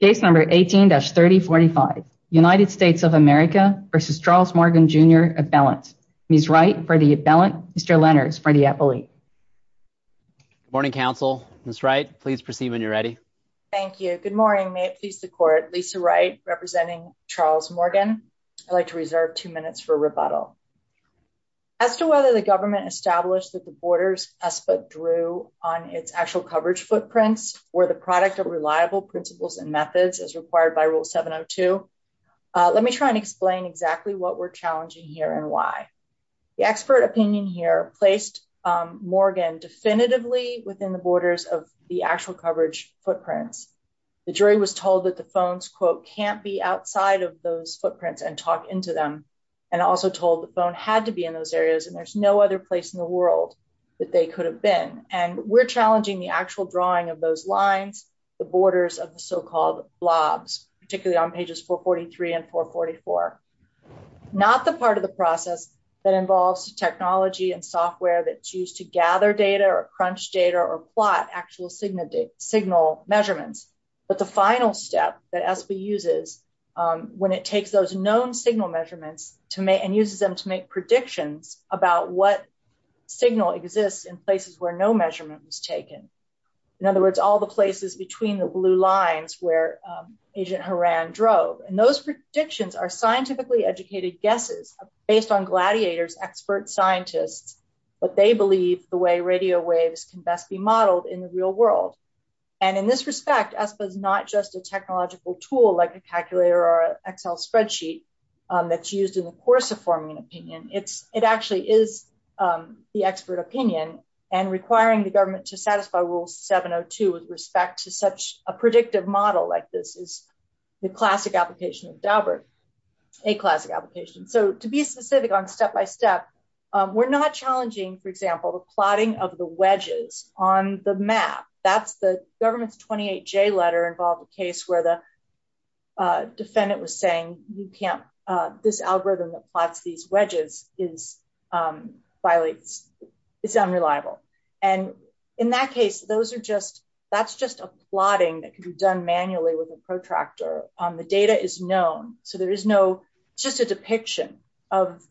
Case number 18-3045. United States of America v. Charles Morgan, Jr. Appellant. Ms. Wright, for the appellant. Mr. Lenners, for the appellate. Good morning, counsel. Ms. Wright, please proceed when you're ready. Thank you. Good morning. May it please the court. Lisa Wright, representing Charles Morgan. I'd like to reserve two minutes for rebuttal. As to whether the government established that the border's ESPA drew on its actual coverage footprints were the product of reliable principles and methods as required by Rule 702, let me try and explain exactly what we're challenging here and why. The expert opinion here placed Morgan definitively within the borders of the actual coverage footprints. The jury was told that the phones, quote, can't be outside of those footprints and talk into them, and also told the phone had to be in those areas and there's no other place in the world that they could have been. And we're challenging the actual drawing of those lines, the borders of the so-called blobs, particularly on pages 443 and 444. Not the part of the process that involves technology and software that's used to gather data or crunch data or plot actual signal measurements. But the final step that ESPA uses when it takes those known signal measurements and uses them to make predictions about what signal exists in places where no measurement was taken. In other words, all the places between the blue lines where Agent Horan drove and those predictions are scientifically educated guesses based on gladiators expert scientists, but they believe the way radio waves can best be modeled in the real world. And in this respect, ESPA is not just a technological tool like a calculator or Excel spreadsheet that's used in the course of forming an opinion, it's, it actually is the expert opinion and requiring the government to satisfy rule 702 with respect to such a predictive model like this is the classic application of Daubert, a classic application. So to be specific on step by step, we're not challenging, for example, the plotting of the wedges on the map. That's the government's 28 J letter involved a case where the defendant was saying, you can't this algorithm that plots these wedges is violates is unreliable. And in that case, those are just, that's just a plotting that can be done manually with a protractor on the data is known, so there is no, just a depiction of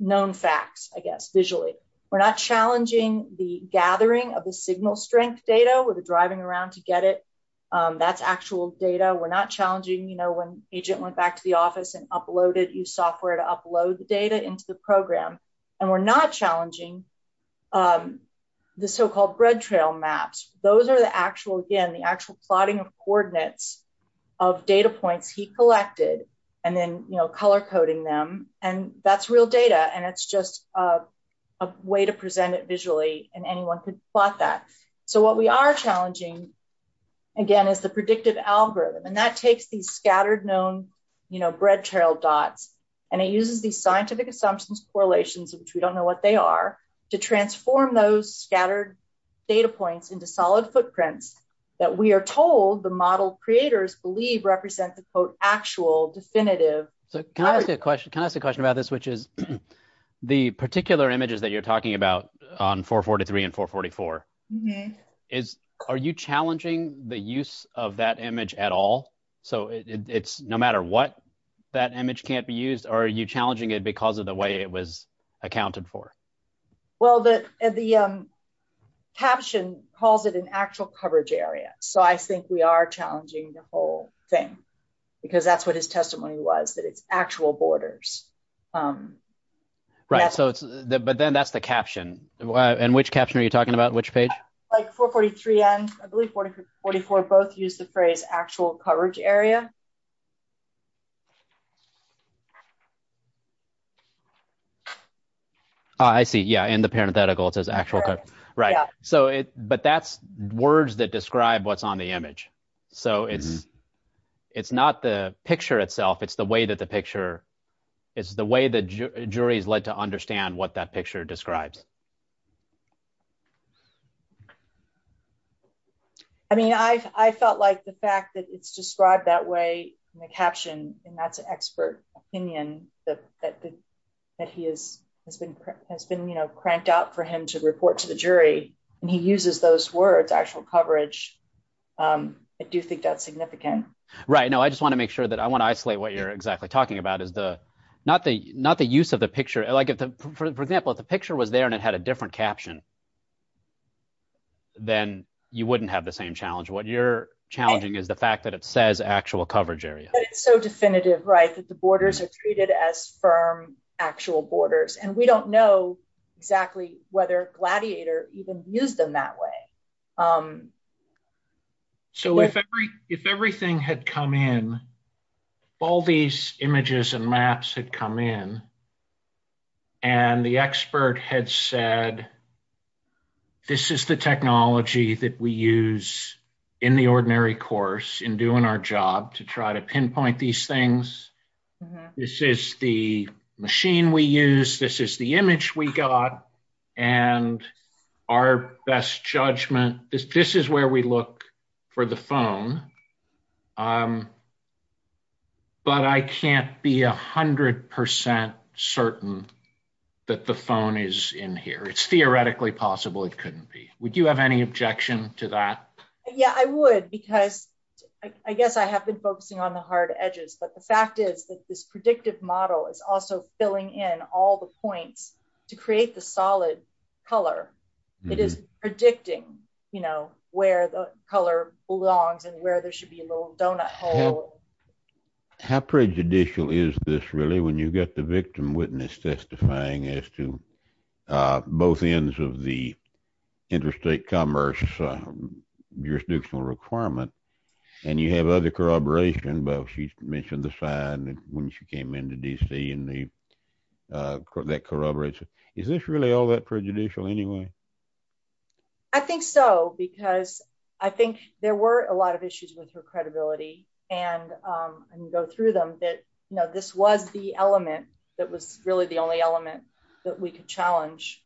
known facts, I guess, visually, we're not challenging the gathering of the signal strength data with the driving around to get it. That's actual data we're not challenging you know when agent went back to the office and uploaded you software to upload the data into the program. And we're not challenging the so called bread trail maps, those are the actual again the actual plotting of coordinates of data points he collected. And then, you know, color coding them, and that's real data and it's just a way to present it visually, and anyone could plot that. So what we are challenging. Again, is the predictive algorithm and that takes these scattered known, you know, bread trail dots, and it uses the scientific assumptions correlations which we don't know what they are to transform those scattered data points into solid footprints that we are told the model creators believe represent the quote actual definitive. So, can I ask a question, can I ask a question about this which is the particular images that you're talking about on for 43 and for 44 is, are you challenging the use of that image at all. So it's no matter what that image can't be used or are you challenging it because of the way it was accounted for. Well that the caption calls it an actual coverage area. So I think we are challenging the whole thing, because that's what his testimony was that it's actual borders. Right, so it's the but then that's the caption and which caption are you talking about which page, like for 43 and I believe 44 both use the phrase actual coverage area. I see yeah and the parenthetical it says actual. Right, so it, but that's words that describe what's on the image. So it's, it's not the picture itself it's the way that the picture is the way the jury is led to understand what that picture describes. I mean I felt like the fact that it's described that way, the caption, and that's an expert opinion that that that he is has been has been you know cranked out for him to report to the jury, and he uses those words actual coverage. I do think that's significant. Right now I just want to make sure that I want to isolate what you're exactly talking about is the, not the, not the use of the picture like for example if the picture was there and it had a different caption, then you wouldn't have the same challenge what you're challenging is the fact that it says actual coverage area, so definitive right that the borders are treated as firm actual borders and we don't know exactly whether gladiator even use them that way. So if, if everything had come in. All these images and maps had come in. And the expert had said, this is the technology that we use in the ordinary course in doing our job to try to pinpoint these things. This is the machine we use this is the image we got, and our best judgment, this, this is where we look for the phone. Um, but I can't be 100% certain that the phone is in here it's theoretically possible it couldn't be, would you have any objection to that. Yeah, I would because I guess I have been focusing on the hard edges but the fact is that this predictive model is also filling in all the points to create the solid color. It is predicting, you know, where the color belongs and where there should be a little donut. How prejudicial is this really when you get the victim witness testifying as to both ends of the interstate commerce jurisdictional requirement. And you have other corroboration but she mentioned the side when she came into DC and the correct that corroborates. Is this really all that prejudicial anyway. I think so because I think there were a lot of issues with her credibility and go through them that know this was the element that was really the only element that we could challenge.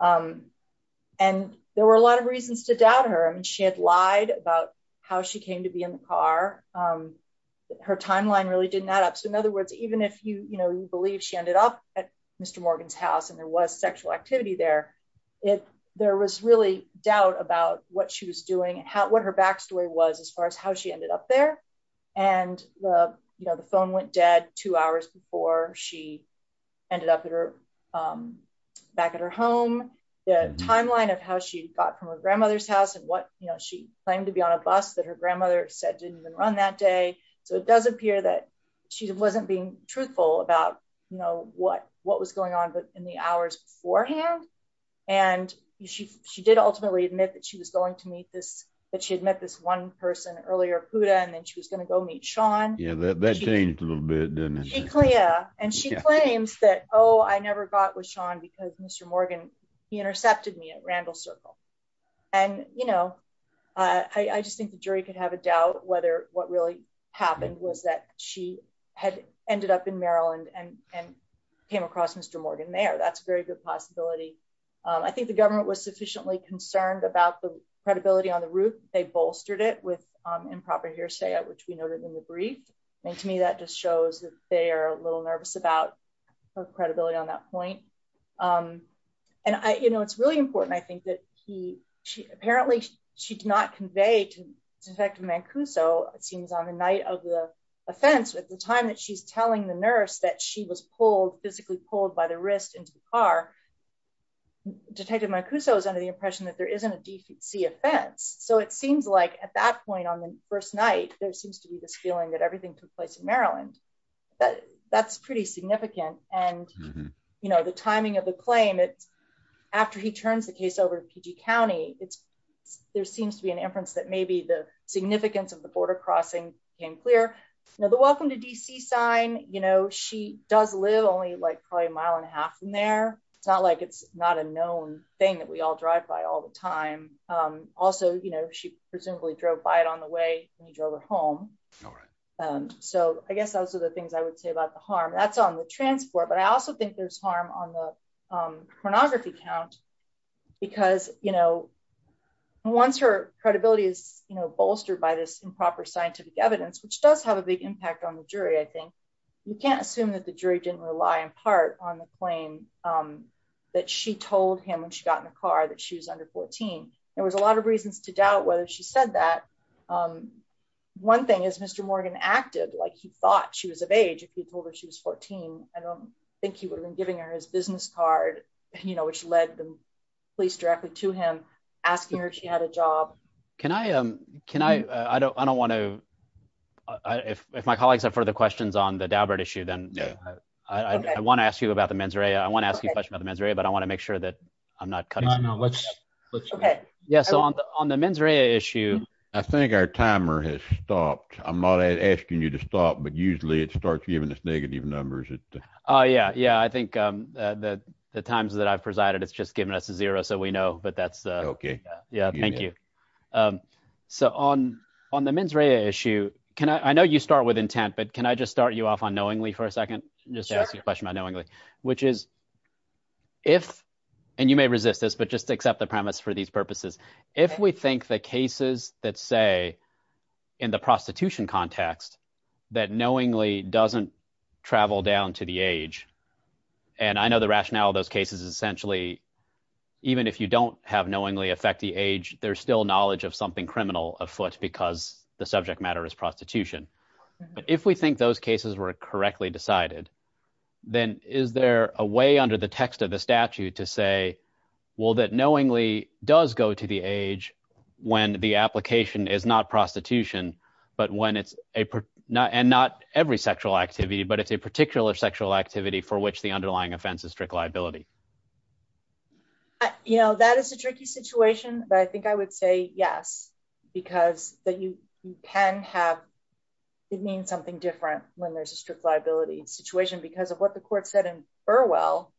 And there were a lot of reasons to doubt her and she had lied about how she came to be in the car. Her timeline really didn't add up. So in other words, even if you, you know, you believe she ended up at Mr Morgan's house and there was sexual activity there. If there was really doubt about what she was doing and how what her backstory was as far as how she ended up there. And, you know, the phone went dead, two hours before she ended up at her back at her home, the timeline of how she got from her grandmother's house and what you know she claimed to be on a bus that her grandmother said didn't even run that day. So it does appear that she wasn't being truthful about know what, what was going on, but in the hours beforehand. And she, she did ultimately admit that she was going to meet this that she had met this one person earlier Buddha and then she was going to go meet Sean. Yeah, that changed a little bit. And she claims that, oh, I never got with Sean because Mr Morgan, he intercepted me at Randall circle. And, you know, I just think the jury could have a doubt whether what really happened was that she had ended up in Maryland and and came across Mr Morgan there that's very good possibility. I think the government was sufficiently concerned about the credibility on the roof, they bolstered it with improper hearsay at which we noted in the brief. And to me that just shows that they are a little nervous about credibility on that point. And I you know it's really important I think that he, she, apparently, she did not convey to defective Mancuso, it seems on the night of the offense with the time that she's telling the nurse that she was pulled physically pulled by the wrist into the car. Detective Mike who so is under the impression that there isn't a DC offense, so it seems like at that point on the first night, there seems to be this feeling that everything took place in Maryland. But that's pretty significant. And, you know, the timing of the claim it's after he turns the case over to PG county, it's, there seems to be an inference that maybe the significance of the border crossing in clear. Welcome to DC sign, you know, she does live only like probably a mile and a half from there. It's not like it's not a known thing that we all drive by all the time. Also, you know, she presumably drove by it on the way, and he drove her home. So, I guess those are the things I would say about the harm that's on the transport but I also think there's harm on the pornography count. Because, you know, once her credibility is, you know, bolstered by this improper scientific evidence which does have a big impact on the jury I think you can't assume that the jury didn't rely in part on the claim that she told him when she got in the car that she was under 14, there was a lot of reasons to doubt whether she said that one thing is Mr Morgan active like he thought she was of age if he told her she was 14, I don't think he would have been giving her his business card, you know, which led them to the men's area I want to ask you a question about the men's area but I want to make sure that I'm not cutting. Yes, on the men's area issue. I think our timer has stopped. I'm not asking you to stop but usually it starts giving us negative numbers. Oh yeah yeah I think that the times that I've presided it's just given us a zero so we know but that's okay. Yeah, thank you. So on, on the men's area issue. Can I know you start with intent but can I just start you off on knowingly for a second, just ask you a question about knowingly, which is if, and you may resist this but just accept the premise for these purposes. If we think the cases that say in the prostitution context that knowingly doesn't travel down to the age. And I know the rationale of those cases essentially, even if you don't have knowingly affect the age, there's still knowledge of something criminal afoot because the subject matter is prostitution. But if we think those cases were correctly decided, then is there a way under the text of the statute to say, well that knowingly does go to the age when the application is not prostitution, but when it's a not and not every sexual activity but it's a particular sexual activity for which the underlying offenses strict liability. You know that is a tricky situation, but I think I would say yes, because that you can have. It means something different when there's a strict liability situation because of what the court said and Burwell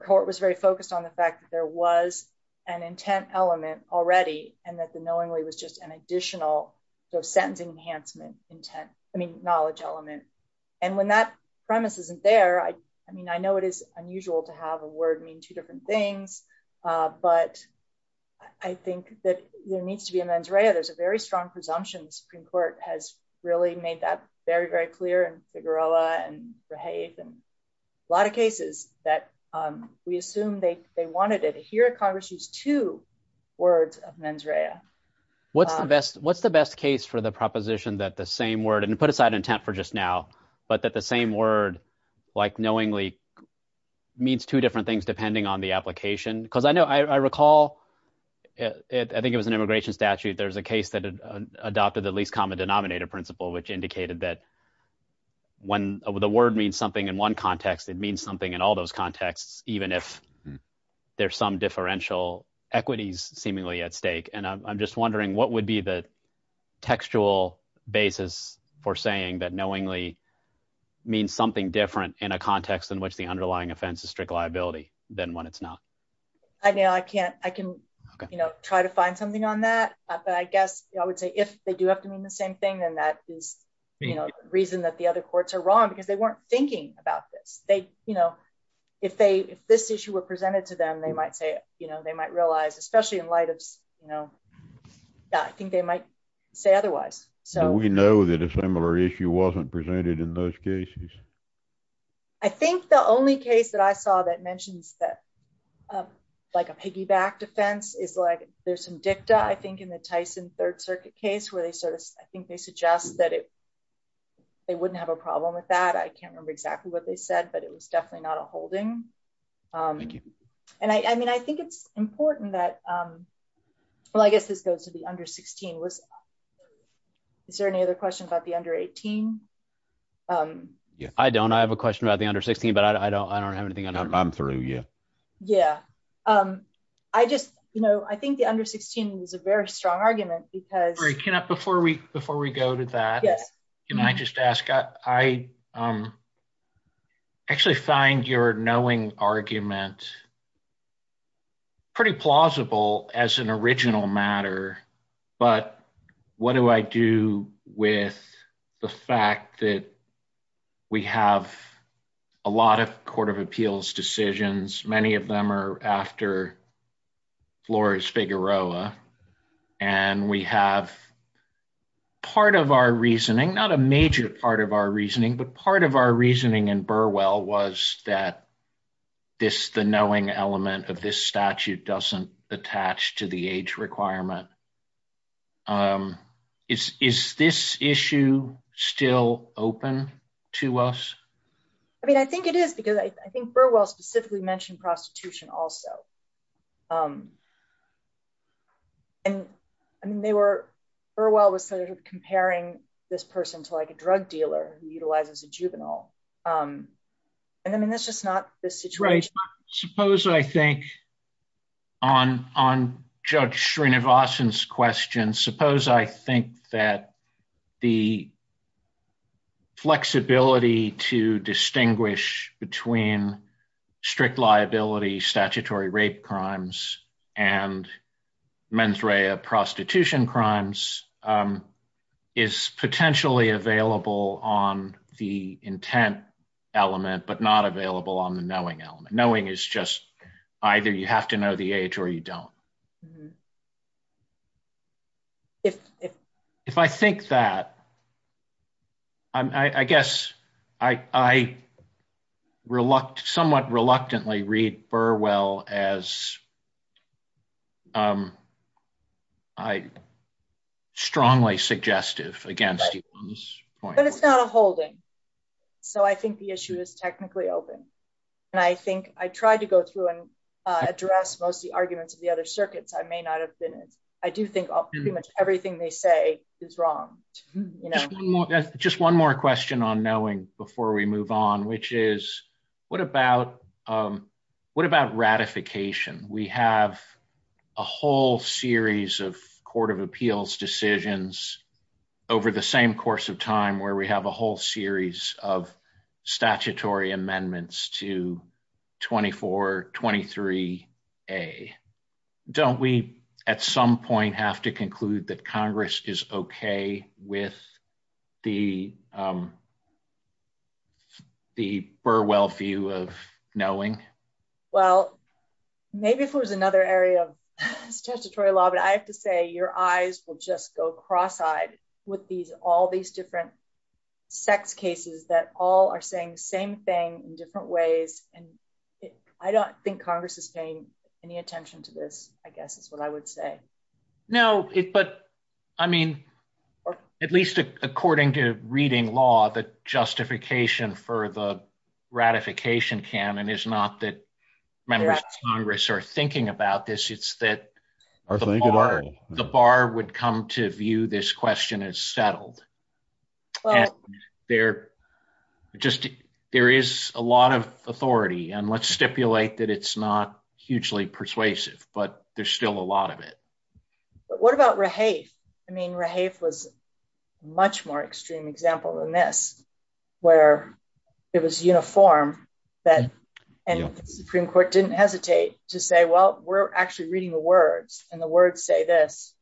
court was very focused on the fact that there was an intent element already, and that the knowingly was just an additional sentence enhancement intent, I mean knowledge element. And when that premise isn't there I mean I know it is unusual to have a word mean two different things. But I think that there needs to be a mens rea there's a very strong presumptions Supreme Court has really made that very very clear and figure Allah and behave and a lot of cases that we assume they, they wanted it here at Congress use two words of mens rea. What's the best, what's the best case for the proposition that the same word and put aside intent for just now, but that the same word like knowingly means two different things depending on the application, because I know I recall it I think it was an immigration statute adopted the least common denominator principle which indicated that when the word means something in one context, it means something in all those contexts, even if there's some differential equities seemingly at stake and I'm just wondering what would be the textual basis for saying that knowingly means something different in a context in which the underlying offenses strict liability than when it's not. I know I can't, I can, you know, try to find something on that, but I guess I would say if they do have to mean the same thing and that is the reason that the other courts are wrong because they weren't thinking about this, they, you know, if they if this particular issue wasn't presented in those cases. I think the only case that I saw that mentions that, like a piggyback defense is like there's some dicta I think in the Tyson Third Circuit case where they sort of, I think they suggest that if they wouldn't have a problem with that I can't remember exactly what they said but it was definitely not a holding. And I mean I think it's important that. Well I guess this goes to the under 16 was. Is there any other questions about the under 18. Yeah, I don't I have a question about the under 16 but I don't I don't have anything I'm through. Yeah. Yeah. Um, I just, you know, I think the under 16 is a very strong argument because you cannot before we before we go to that. Yes. Can I just ask, I actually find your knowing argument. Pretty plausible as an original matter. But what do I do with the fact that we have a lot of Court of Appeals decisions, many of them are after floors Figueroa. And we have part of our reasoning not a major part of our reasoning but part of our reasoning and Burwell was that this the knowing element of this statute doesn't attach to the age requirement is, is this issue, still open to us. I mean I think it is because I think Burwell specifically mentioned prostitution also. And they were for a while was sort of comparing this person to like a drug dealer who utilizes a juvenile. And I mean that's just not the situation. Suppose I think on on judge Srinivasan questions suppose I think that the flexibility to distinguish between strict liability statutory rape crimes and men's Ray of prostitution crimes is potentially available on the intent element but not available on the knowing element knowing is just either you have to know the age or you don't. If, if, if I think that, I guess, I reluctant somewhat reluctantly read Burwell, as I strongly suggestive against this point it's not a holding. So I think the issue is technically open. And I think I tried to go through and address most of the arguments of the other circuits I may not have been. I do think pretty much everything they say is wrong. Just one more question on knowing, before we move on, which is, what about what about ratification, we have a whole series of Court of Appeals decisions over the same course of time where we have a whole series of statutory amendments to 2423. A. Don't we, at some point have to conclude that Congress is okay with the, the Burwell view of knowing. Well, maybe if it was another area of statutory law but I have to say your eyes will just go cross eyed with these all these different sex cases that all are saying same thing in different ways, and I don't think Congress is paying any attention to this, I guess is what I would say. No, but I mean, at least according to reading law that justification for the ratification can and is not that members of Congress are thinking about this it's that the bar would come to view this question is settled. There, just, there is a lot of authority and let's stipulate that it's not hugely persuasive, but there's still a lot of it. What about rehave. I mean rehave was much more extreme example than this, where it was uniform that and Supreme Court didn't hesitate to say well we're actually reading the words, and the words say this.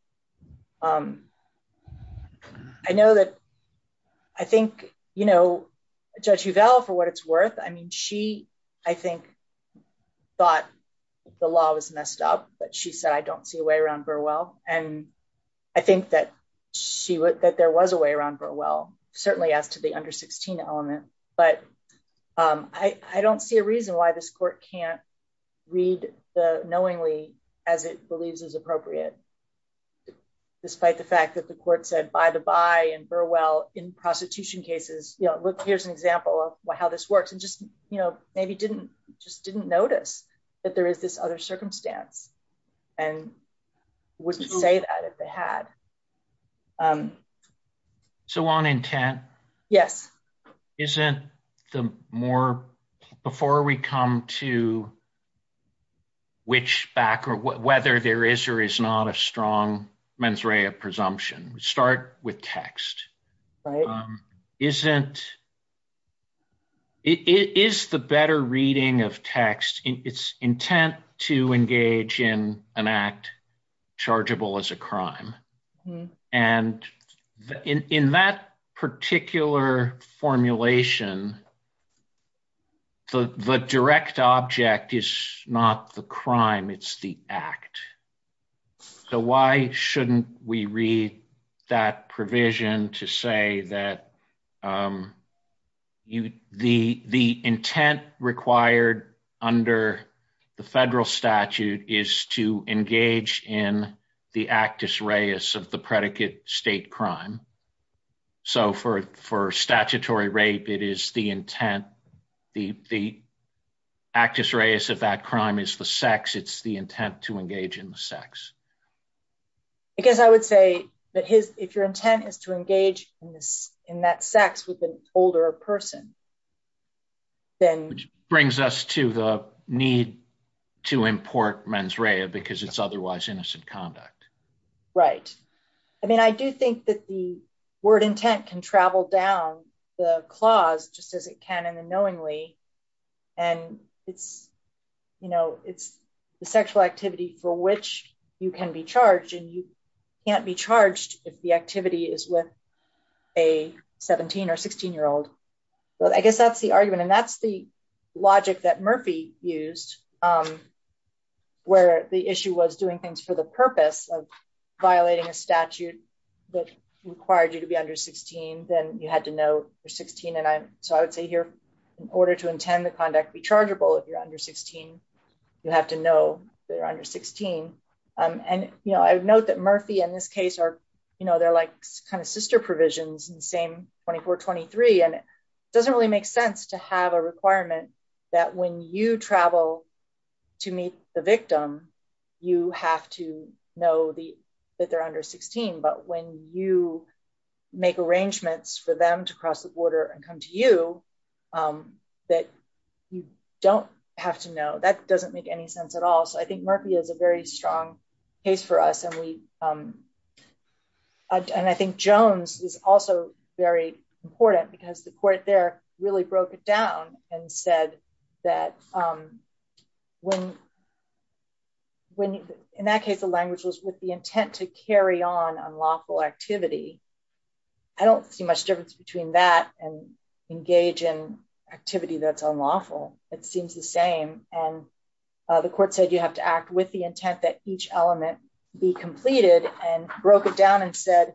I know that. I think, you know, judge you Val for what it's worth I mean she, I think, but the law was messed up, but she said I don't see a way around Burwell, and I think that she would that there was a way around Burwell, certainly as to the under 16 element, but I don't see a reason why this court can't read the knowingly, as it believes is appropriate. Despite the fact that the court said by the by and Burwell in prostitution cases, you know, look, here's an example of how this works and just, you know, maybe didn't just didn't notice that there is this other circumstance, and wouldn't say that if they had. So on intent. Yes. Isn't the more before we come to which back or whether there is or is not a strong mens rea presumption, start with text isn't. It is the better reading of text in its intent to engage in an act chargeable as a crime. And in that particular formulation. The direct object is not the crime it's the act. So why shouldn't we read that provision to say that You, the, the intent required under the federal statute is to engage in the actus reus of the predicate state crime. So for for statutory rape, it is the intent. The, the actus reus of that crime is the sex it's the intent to engage in the sex. Because I would say that his if your intent is to engage in this in that sex with an older person. Then, which brings us to the need to import mens rea because it's otherwise innocent conduct. Right. I mean, I do think that the word intent can travel down the clause, just as it can in the knowingly. And it's, you know, it's the sexual activity for which you can be charged and you can't be charged if the activity is with a 17 or 16 year old, but I guess that's the argument and that's the logic that Murphy used Where the issue was doing things for the purpose of violating a statute that required you to be under 16, then you had to know you're 16 and I, so I would say here, in order to intend the conduct be chargeable if you're under 16, you have to know they're under 16. And, you know, I've note that Murphy in this case are, you know, they're like kind of sister provisions and same 2423 and doesn't really make sense to have a requirement that when you travel to meet the victim. You have to know the that they're under 16 but when you make arrangements for them to cross the border and come to you that you don't have to know that doesn't make any sense at all. So I think Murphy is a very strong case for us and we And I think Jones is also very important because the court there really broke it down and said that when, when, in that case the language was with the intent to carry on unlawful activity. I don't see much difference between that and engage in activity that's unlawful. It seems the same. And the court said you have to act with the intent that each element be completed and broke it down and said,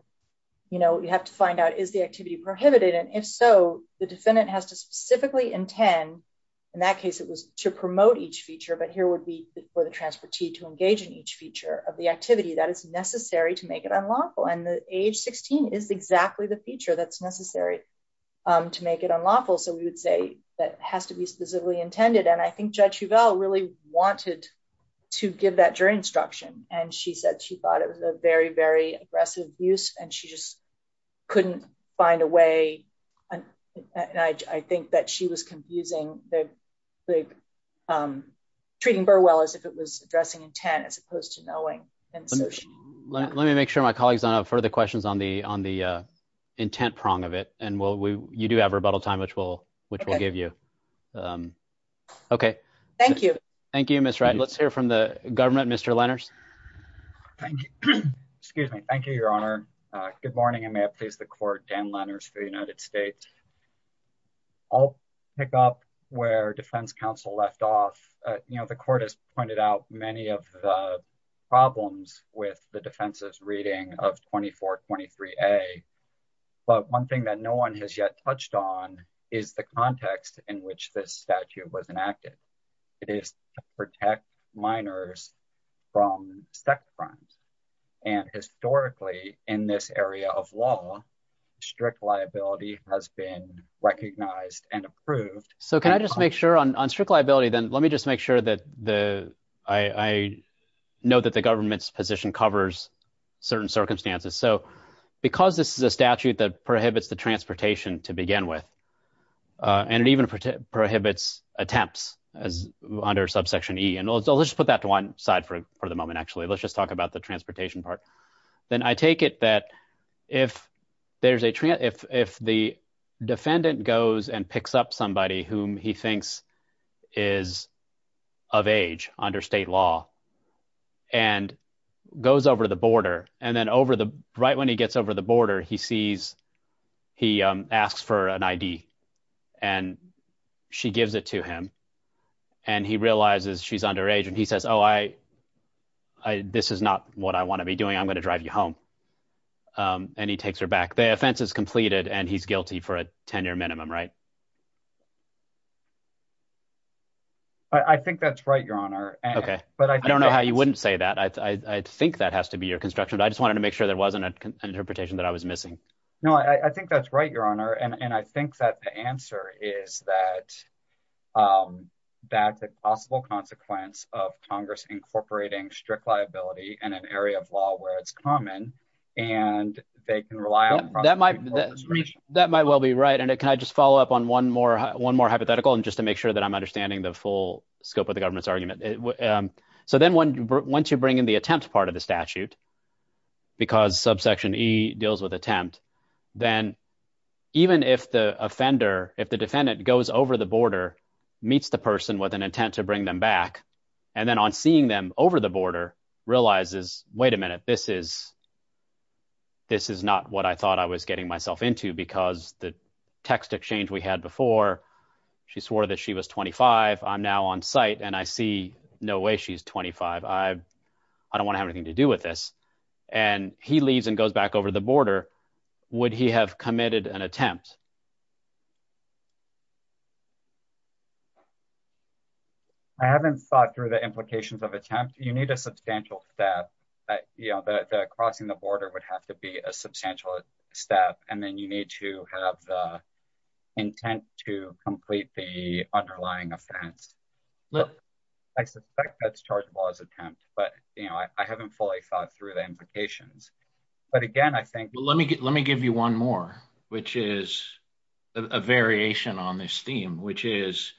you know, you have to find out is the activity is exactly the feature that's necessary to make it unlawful so we would say that has to be specifically intended and I think judge you've all really wanted to give that during instruction, and she said she thought it was a very very aggressive use, and she just couldn't find a way. And I think that she was confusing the big treating Burwell as if it was addressing intent as opposed to knowing. And so, let me make sure my colleagues on further questions on the on the intent prong of it, and we'll we do have rebuttal time which will, which will give you. Okay. Thank you. Thank you, Mr. Let's hear from the government Mr letters. Thank you. Excuse me. Thank you, Your Honor. Good morning and may I please the court Dan letters for the United States. I'll pick up where Defense Council left off, you know, the court has pointed out many of the problems with the defenses reading of 2423 a. But one thing that no one has yet touched on is the context in which this statute was enacted. It is protect minors from sex crimes. And historically, in this area of law strict liability has been recognized and approved. So can I just make sure on strict liability then let me just make sure that the, I know that the government's position covers certain circumstances so because this is a statute that prohibits the transportation to begin with. And it even prohibits attempts as under subsection e and also let's put that to one side for the moment actually let's just talk about the transportation part. Then I take it that if there's a trend if the defendant goes and picks up somebody whom he thinks is of age under state law, and goes over the border, and then over the right when he gets over the border he sees. He asks for an ID. And she gives it to him. And he realizes she's underage and he says oh I, I, this is not what I want to be doing I'm going to drive you home. And he takes her back the offense is completed and he's guilty for a 10 year minimum right. I think that's right, Your Honor. Okay, but I don't know how you wouldn't say that I think that has to be your construction I just wanted to make sure there wasn't an interpretation that I was missing. No, I think that's right, Your Honor, and I think that the answer is that that's a possible consequence of Congress incorporating strict liability and an area of law where it's common, and they can rely on that might. That might well be right and it can I just follow up on one more one more hypothetical and just to make sure that I'm understanding the full scope of the government's argument. So then when once you bring in the attempt part of the statute, because subsection he deals with attempt, then even if the offender, if the defendant goes over the border meets the person with an intent to bring them back. And then on seeing them over the border realizes, wait a minute, this is, this is not what I thought I was getting myself into because the text exchange we had before. She swore that she was 25 I'm now on site and I see no way she's 25 I, I don't want to have anything to do with this, and he leaves and goes back over the border. Would he have committed an attempt. I haven't thought through the implications of attempt, you need a substantial step that you know that crossing the border would have to be a substantial step and then you need to have the intent to complete the underlying offense. Look, I suspect that's charged laws attempt, but, you know, I haven't fully thought through the implications. But again, I think, let me get let me give you one more, which is a variation on this theme, which is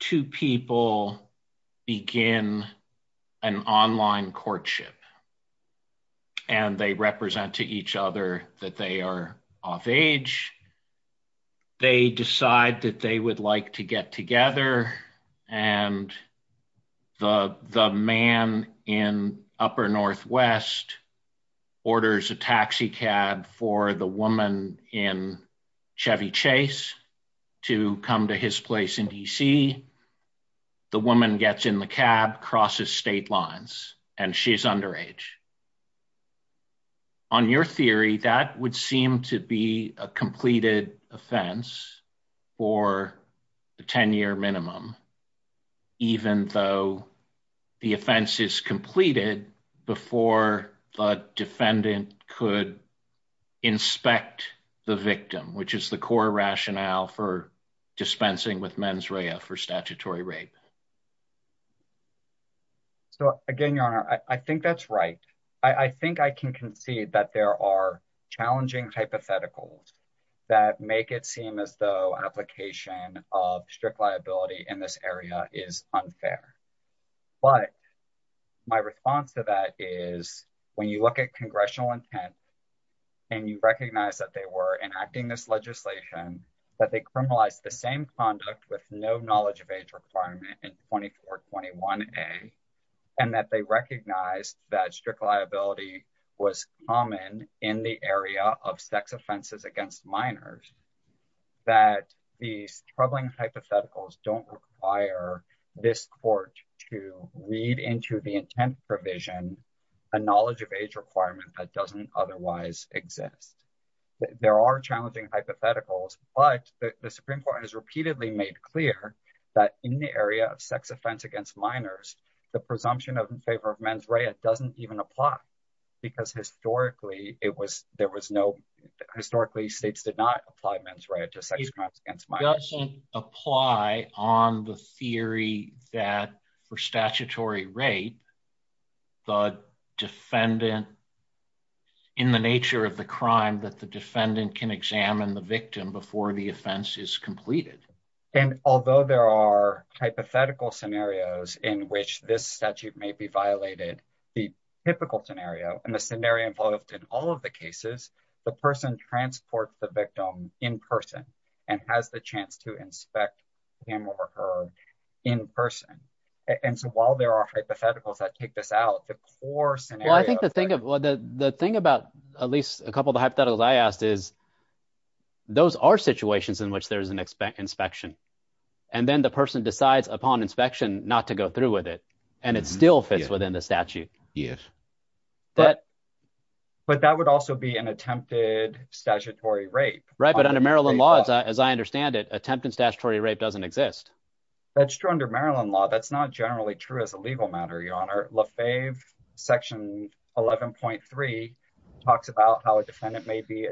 two people begin an online courtship, and they represent to each other that they are off age. They decide that they would like to get together, and the man in upper northwest orders a taxi cab for the woman in Chevy chase to come to his place in DC. The woman gets in the cab crosses state lines, and she's underage. On your theory that would seem to be a completed offense for the 10 year minimum, even though the offense is completed before the defendant could inspect the victim which is the core rationale for dispensing with mens rea for statutory rape. So, again, your honor, I think that's right. I think I can concede that there are challenging hypotheticals that make it seem as though application of strict liability in this area is unfair. But my response to that is, when you look at congressional intent, and you recognize that they were enacting this legislation that they criminalize the same conduct with no knowledge of age requirement and 2421 a, and that they recognize that strict liability was common in the area of sex offenses against minors, that the troubling hypotheticals don't require this court to read into the intent provision, a knowledge of age requirement that doesn't otherwise exist. There are challenging hypotheticals, but the Supreme Court has repeatedly made clear that in the area of sex offense against minors, the presumption of favor of mens rea doesn't even apply. Because historically, it was, there was no historically states did not apply mens rea to sex crimes against minors. It doesn't apply on the theory that for statutory rape, the defendant, in the nature of the crime that the defendant can examine the victim before the offense is completed. And although there are hypothetical scenarios in which this statute may be violated the typical scenario and the scenario involved in all of the cases, the person transport the victim in person, and has the chance to inspect him or her in person. And so while there are hypotheticals that take this out the course and I think the thing of the thing about at least a couple of hypotheticals I asked is, those are situations in which there's an expect inspection. And then the person decides upon inspection, not to go through with it, and it's still fits within the statute. Yes. But, but that would also be an attempted statutory rape right but under Maryland laws, as I understand it attempted statutory rape doesn't exist. That's true under Maryland law that's not generally true as a legal matter your honor love fave section 11.3 talks about how a defendant may be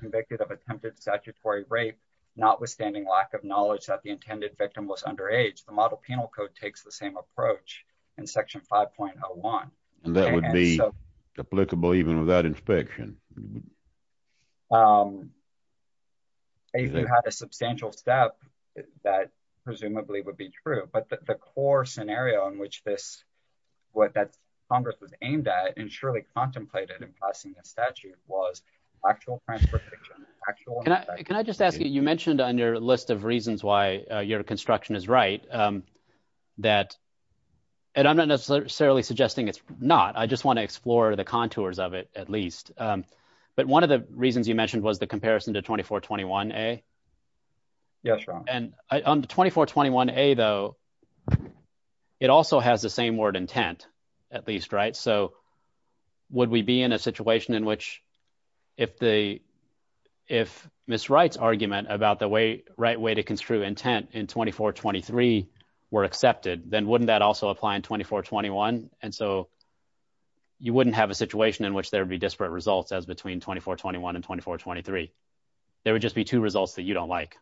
convicted of attempted statutory rape, notwithstanding lack of knowledge that the intended victim was underage the model of the penal code takes the same approach in section 5.01, and that would be applicable even without inspection. If you have a substantial step that presumably would be true but the core scenario in which this what that Congress was aimed at and surely contemplated and passing a statute was actual actual. Can I just ask you, you mentioned on your list of reasons why your construction is right. That, and I'm not necessarily suggesting it's not I just want to explore the contours of it, at least. But one of the reasons you mentioned was the comparison to 2421 a. Yes. And on the 2421 a though. It also has the same word intent, at least right so would we be in a situation in which if the if Miss rights argument about the way right way to construe intent in 2423 were accepted, then wouldn't that also apply in 2421, and so you wouldn't have a situation in which there'd be disparate results as between 2421 and 2423, there would just be two results that you don't like,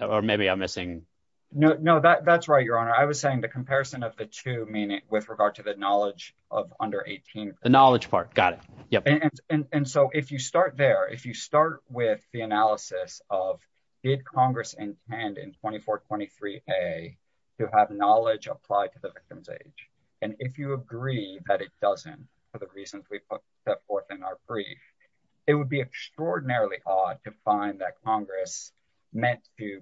or maybe I'm missing. No, no, that's right, Your Honor, I was saying the comparison of the two meaning with regard to the knowledge of under 18, the knowledge part got it. And so if you start there if you start with the analysis of did Congress and hand in 2423 a to have knowledge applied to the victim's age. And if you agree that it doesn't. For the reasons we put that forth in our brief, it would be extraordinarily odd to find that Congress meant to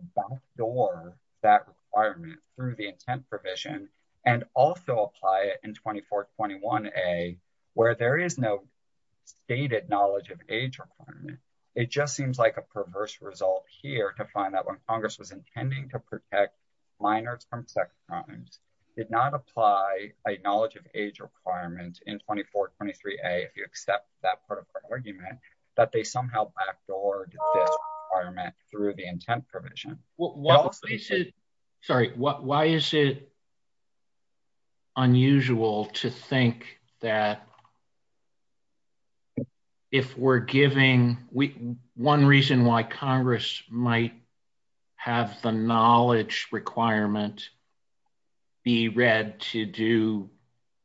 door that are through the intent provision, and also apply it in 2421 a, where there is no stated knowledge of age requirement. It just seems like a perverse result here to find that when Congress was intending to protect minors from sex crimes did not apply a knowledge of age requirement in 2423 a if you accept that part of argument that they somehow backdoor. Through the intent provision. Sorry, what why is it unusual to think that If we're giving we one reason why Congress might have the knowledge requirement. be read to do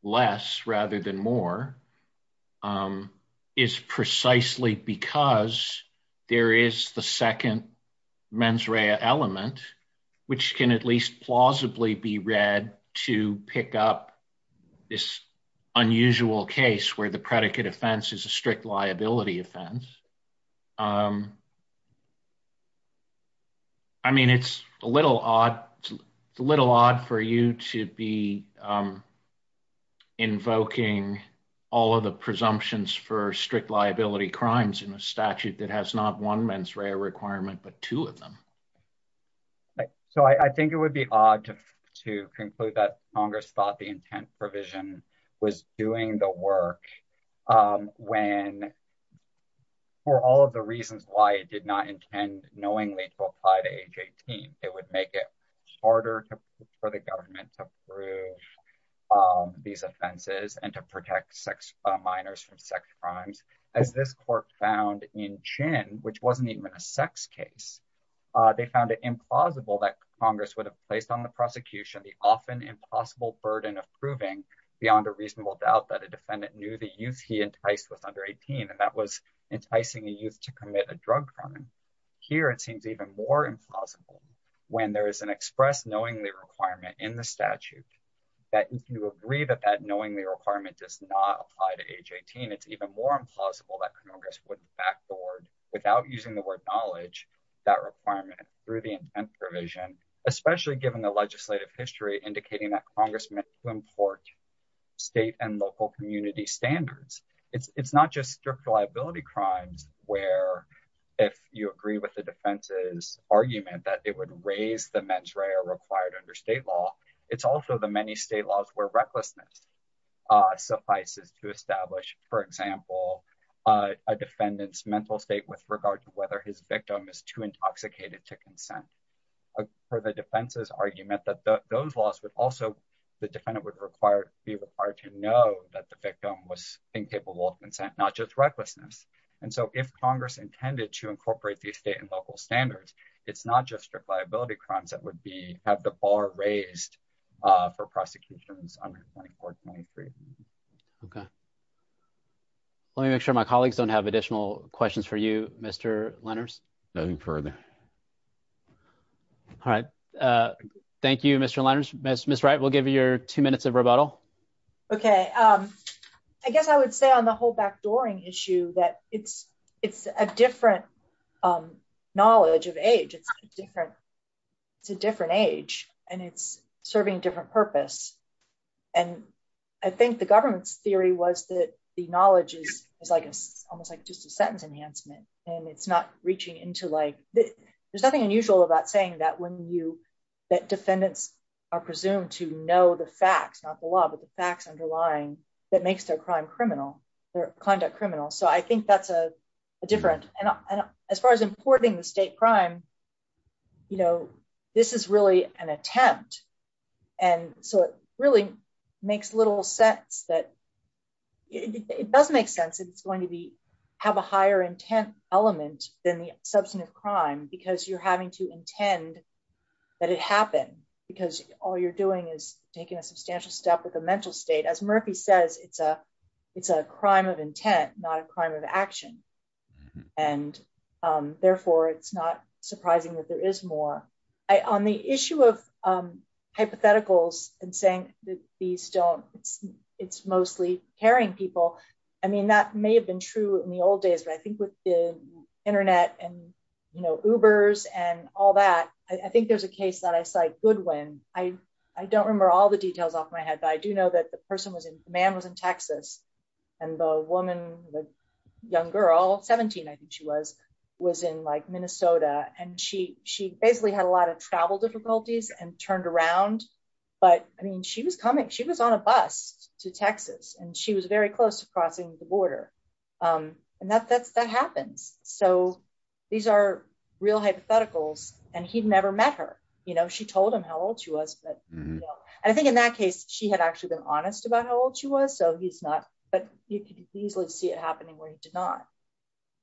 less rather than more is precisely because there is the second mens rea element, which can at least plausibly be read to pick up this unusual case where the predicate offense is a strict liability offense. I mean, it's a little odd little odd for you to be invoking all of the presumptions for strict liability crimes in a statute that has not one mens rea requirement, but two of them. So I think it would be odd to to conclude that Congress thought the intent provision was doing the work when For all of the reasons why it did not intend knowingly to apply to age 18 it would make it harder for the government to prove These offenses and to protect sex minors from sex crimes as this court found in chin, which wasn't even a sex case. They found it implausible that Congress would have placed on the prosecution, the often impossible burden of proving beyond a reasonable doubt that a defendant knew the youth he enticed with under 18 and that was enticing the youth to commit a drug crime. Here, it seems even more implausible when there is an express knowingly requirement in the statute. That you agree that that knowingly requirement does not apply to age 18 it's even more implausible that Congress wouldn't backboard without using the word knowledge. That requirement through the provision, especially given the legislative history, indicating that Congressman to import State and local community standards. It's not just strict liability crimes where If you agree with the defense's argument that it would raise the mens rea required under state law. It's also the many state laws where recklessness Suffices to establish, for example, a defendant's mental state with regard to whether his victim is too intoxicated to consent. For the defense's argument that those laws would also the defendant would require be required to know that the victim was incapable of consent, not just recklessness. And so if Congress intended to incorporate the state and local standards. It's not just a liability crimes that would be have the bar raised for prosecutions under 2423 Okay. Let me make sure my colleagues don't have additional questions for you, Mr. Lenners. No further All right. Thank you, Mr. Lenners. Miss Miss right we'll give you your two minutes of rebuttal. Okay. I guess I would say on the whole backdooring issue that it's it's a different Knowledge of age. It's different. It's a different age and it's serving different purpose. And I think the government's theory was that the knowledge is, is like almost like just a sentence enhancement and it's not reaching into like that. There's nothing unusual about saying that when you that defendants are presumed to know the facts, not the law, but the facts underlying that makes their crime criminal conduct criminal so I think that's a different and as far as importing the state crime. You know, this is really an attempt. And so it really makes little sense that it doesn't make sense it's going to be have a higher intent element than the substantive crime because you're having to intend that it happened because all you're doing is taking a substantial step with a mental state and as Murphy says it's a, it's a crime of intent, not a crime of action. And therefore it's not surprising that there is more on the issue of hypotheticals and saying that these don't, it's, it's mostly caring people. Well, I mean that may have been true in the old days but I think with the internet and, you know, ubers and all that. I think there's a case that I cite good when I, I don't remember all the details off my head but I do know that the person was in man was in Texas, and the woman, the young girl 17 I think she was, was in like Minnesota, and she, she basically had a lot of travel difficulties and turned around. But, I mean she was coming she was on a bus to Texas, and she was very close to crossing the border. And that that's that happens. So, these are real hypotheticals, and he'd never met her, you know, she told him how old she was, but I think in that case, she had actually been honest about how old she was so he's not, but you can easily see it happening where you did not.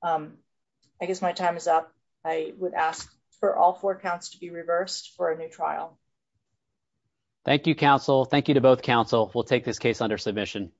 I guess my time is up. I would ask for all four counts to be reversed for a new trial. Thank you, counsel. Thank you to both counsel will take this case under submission.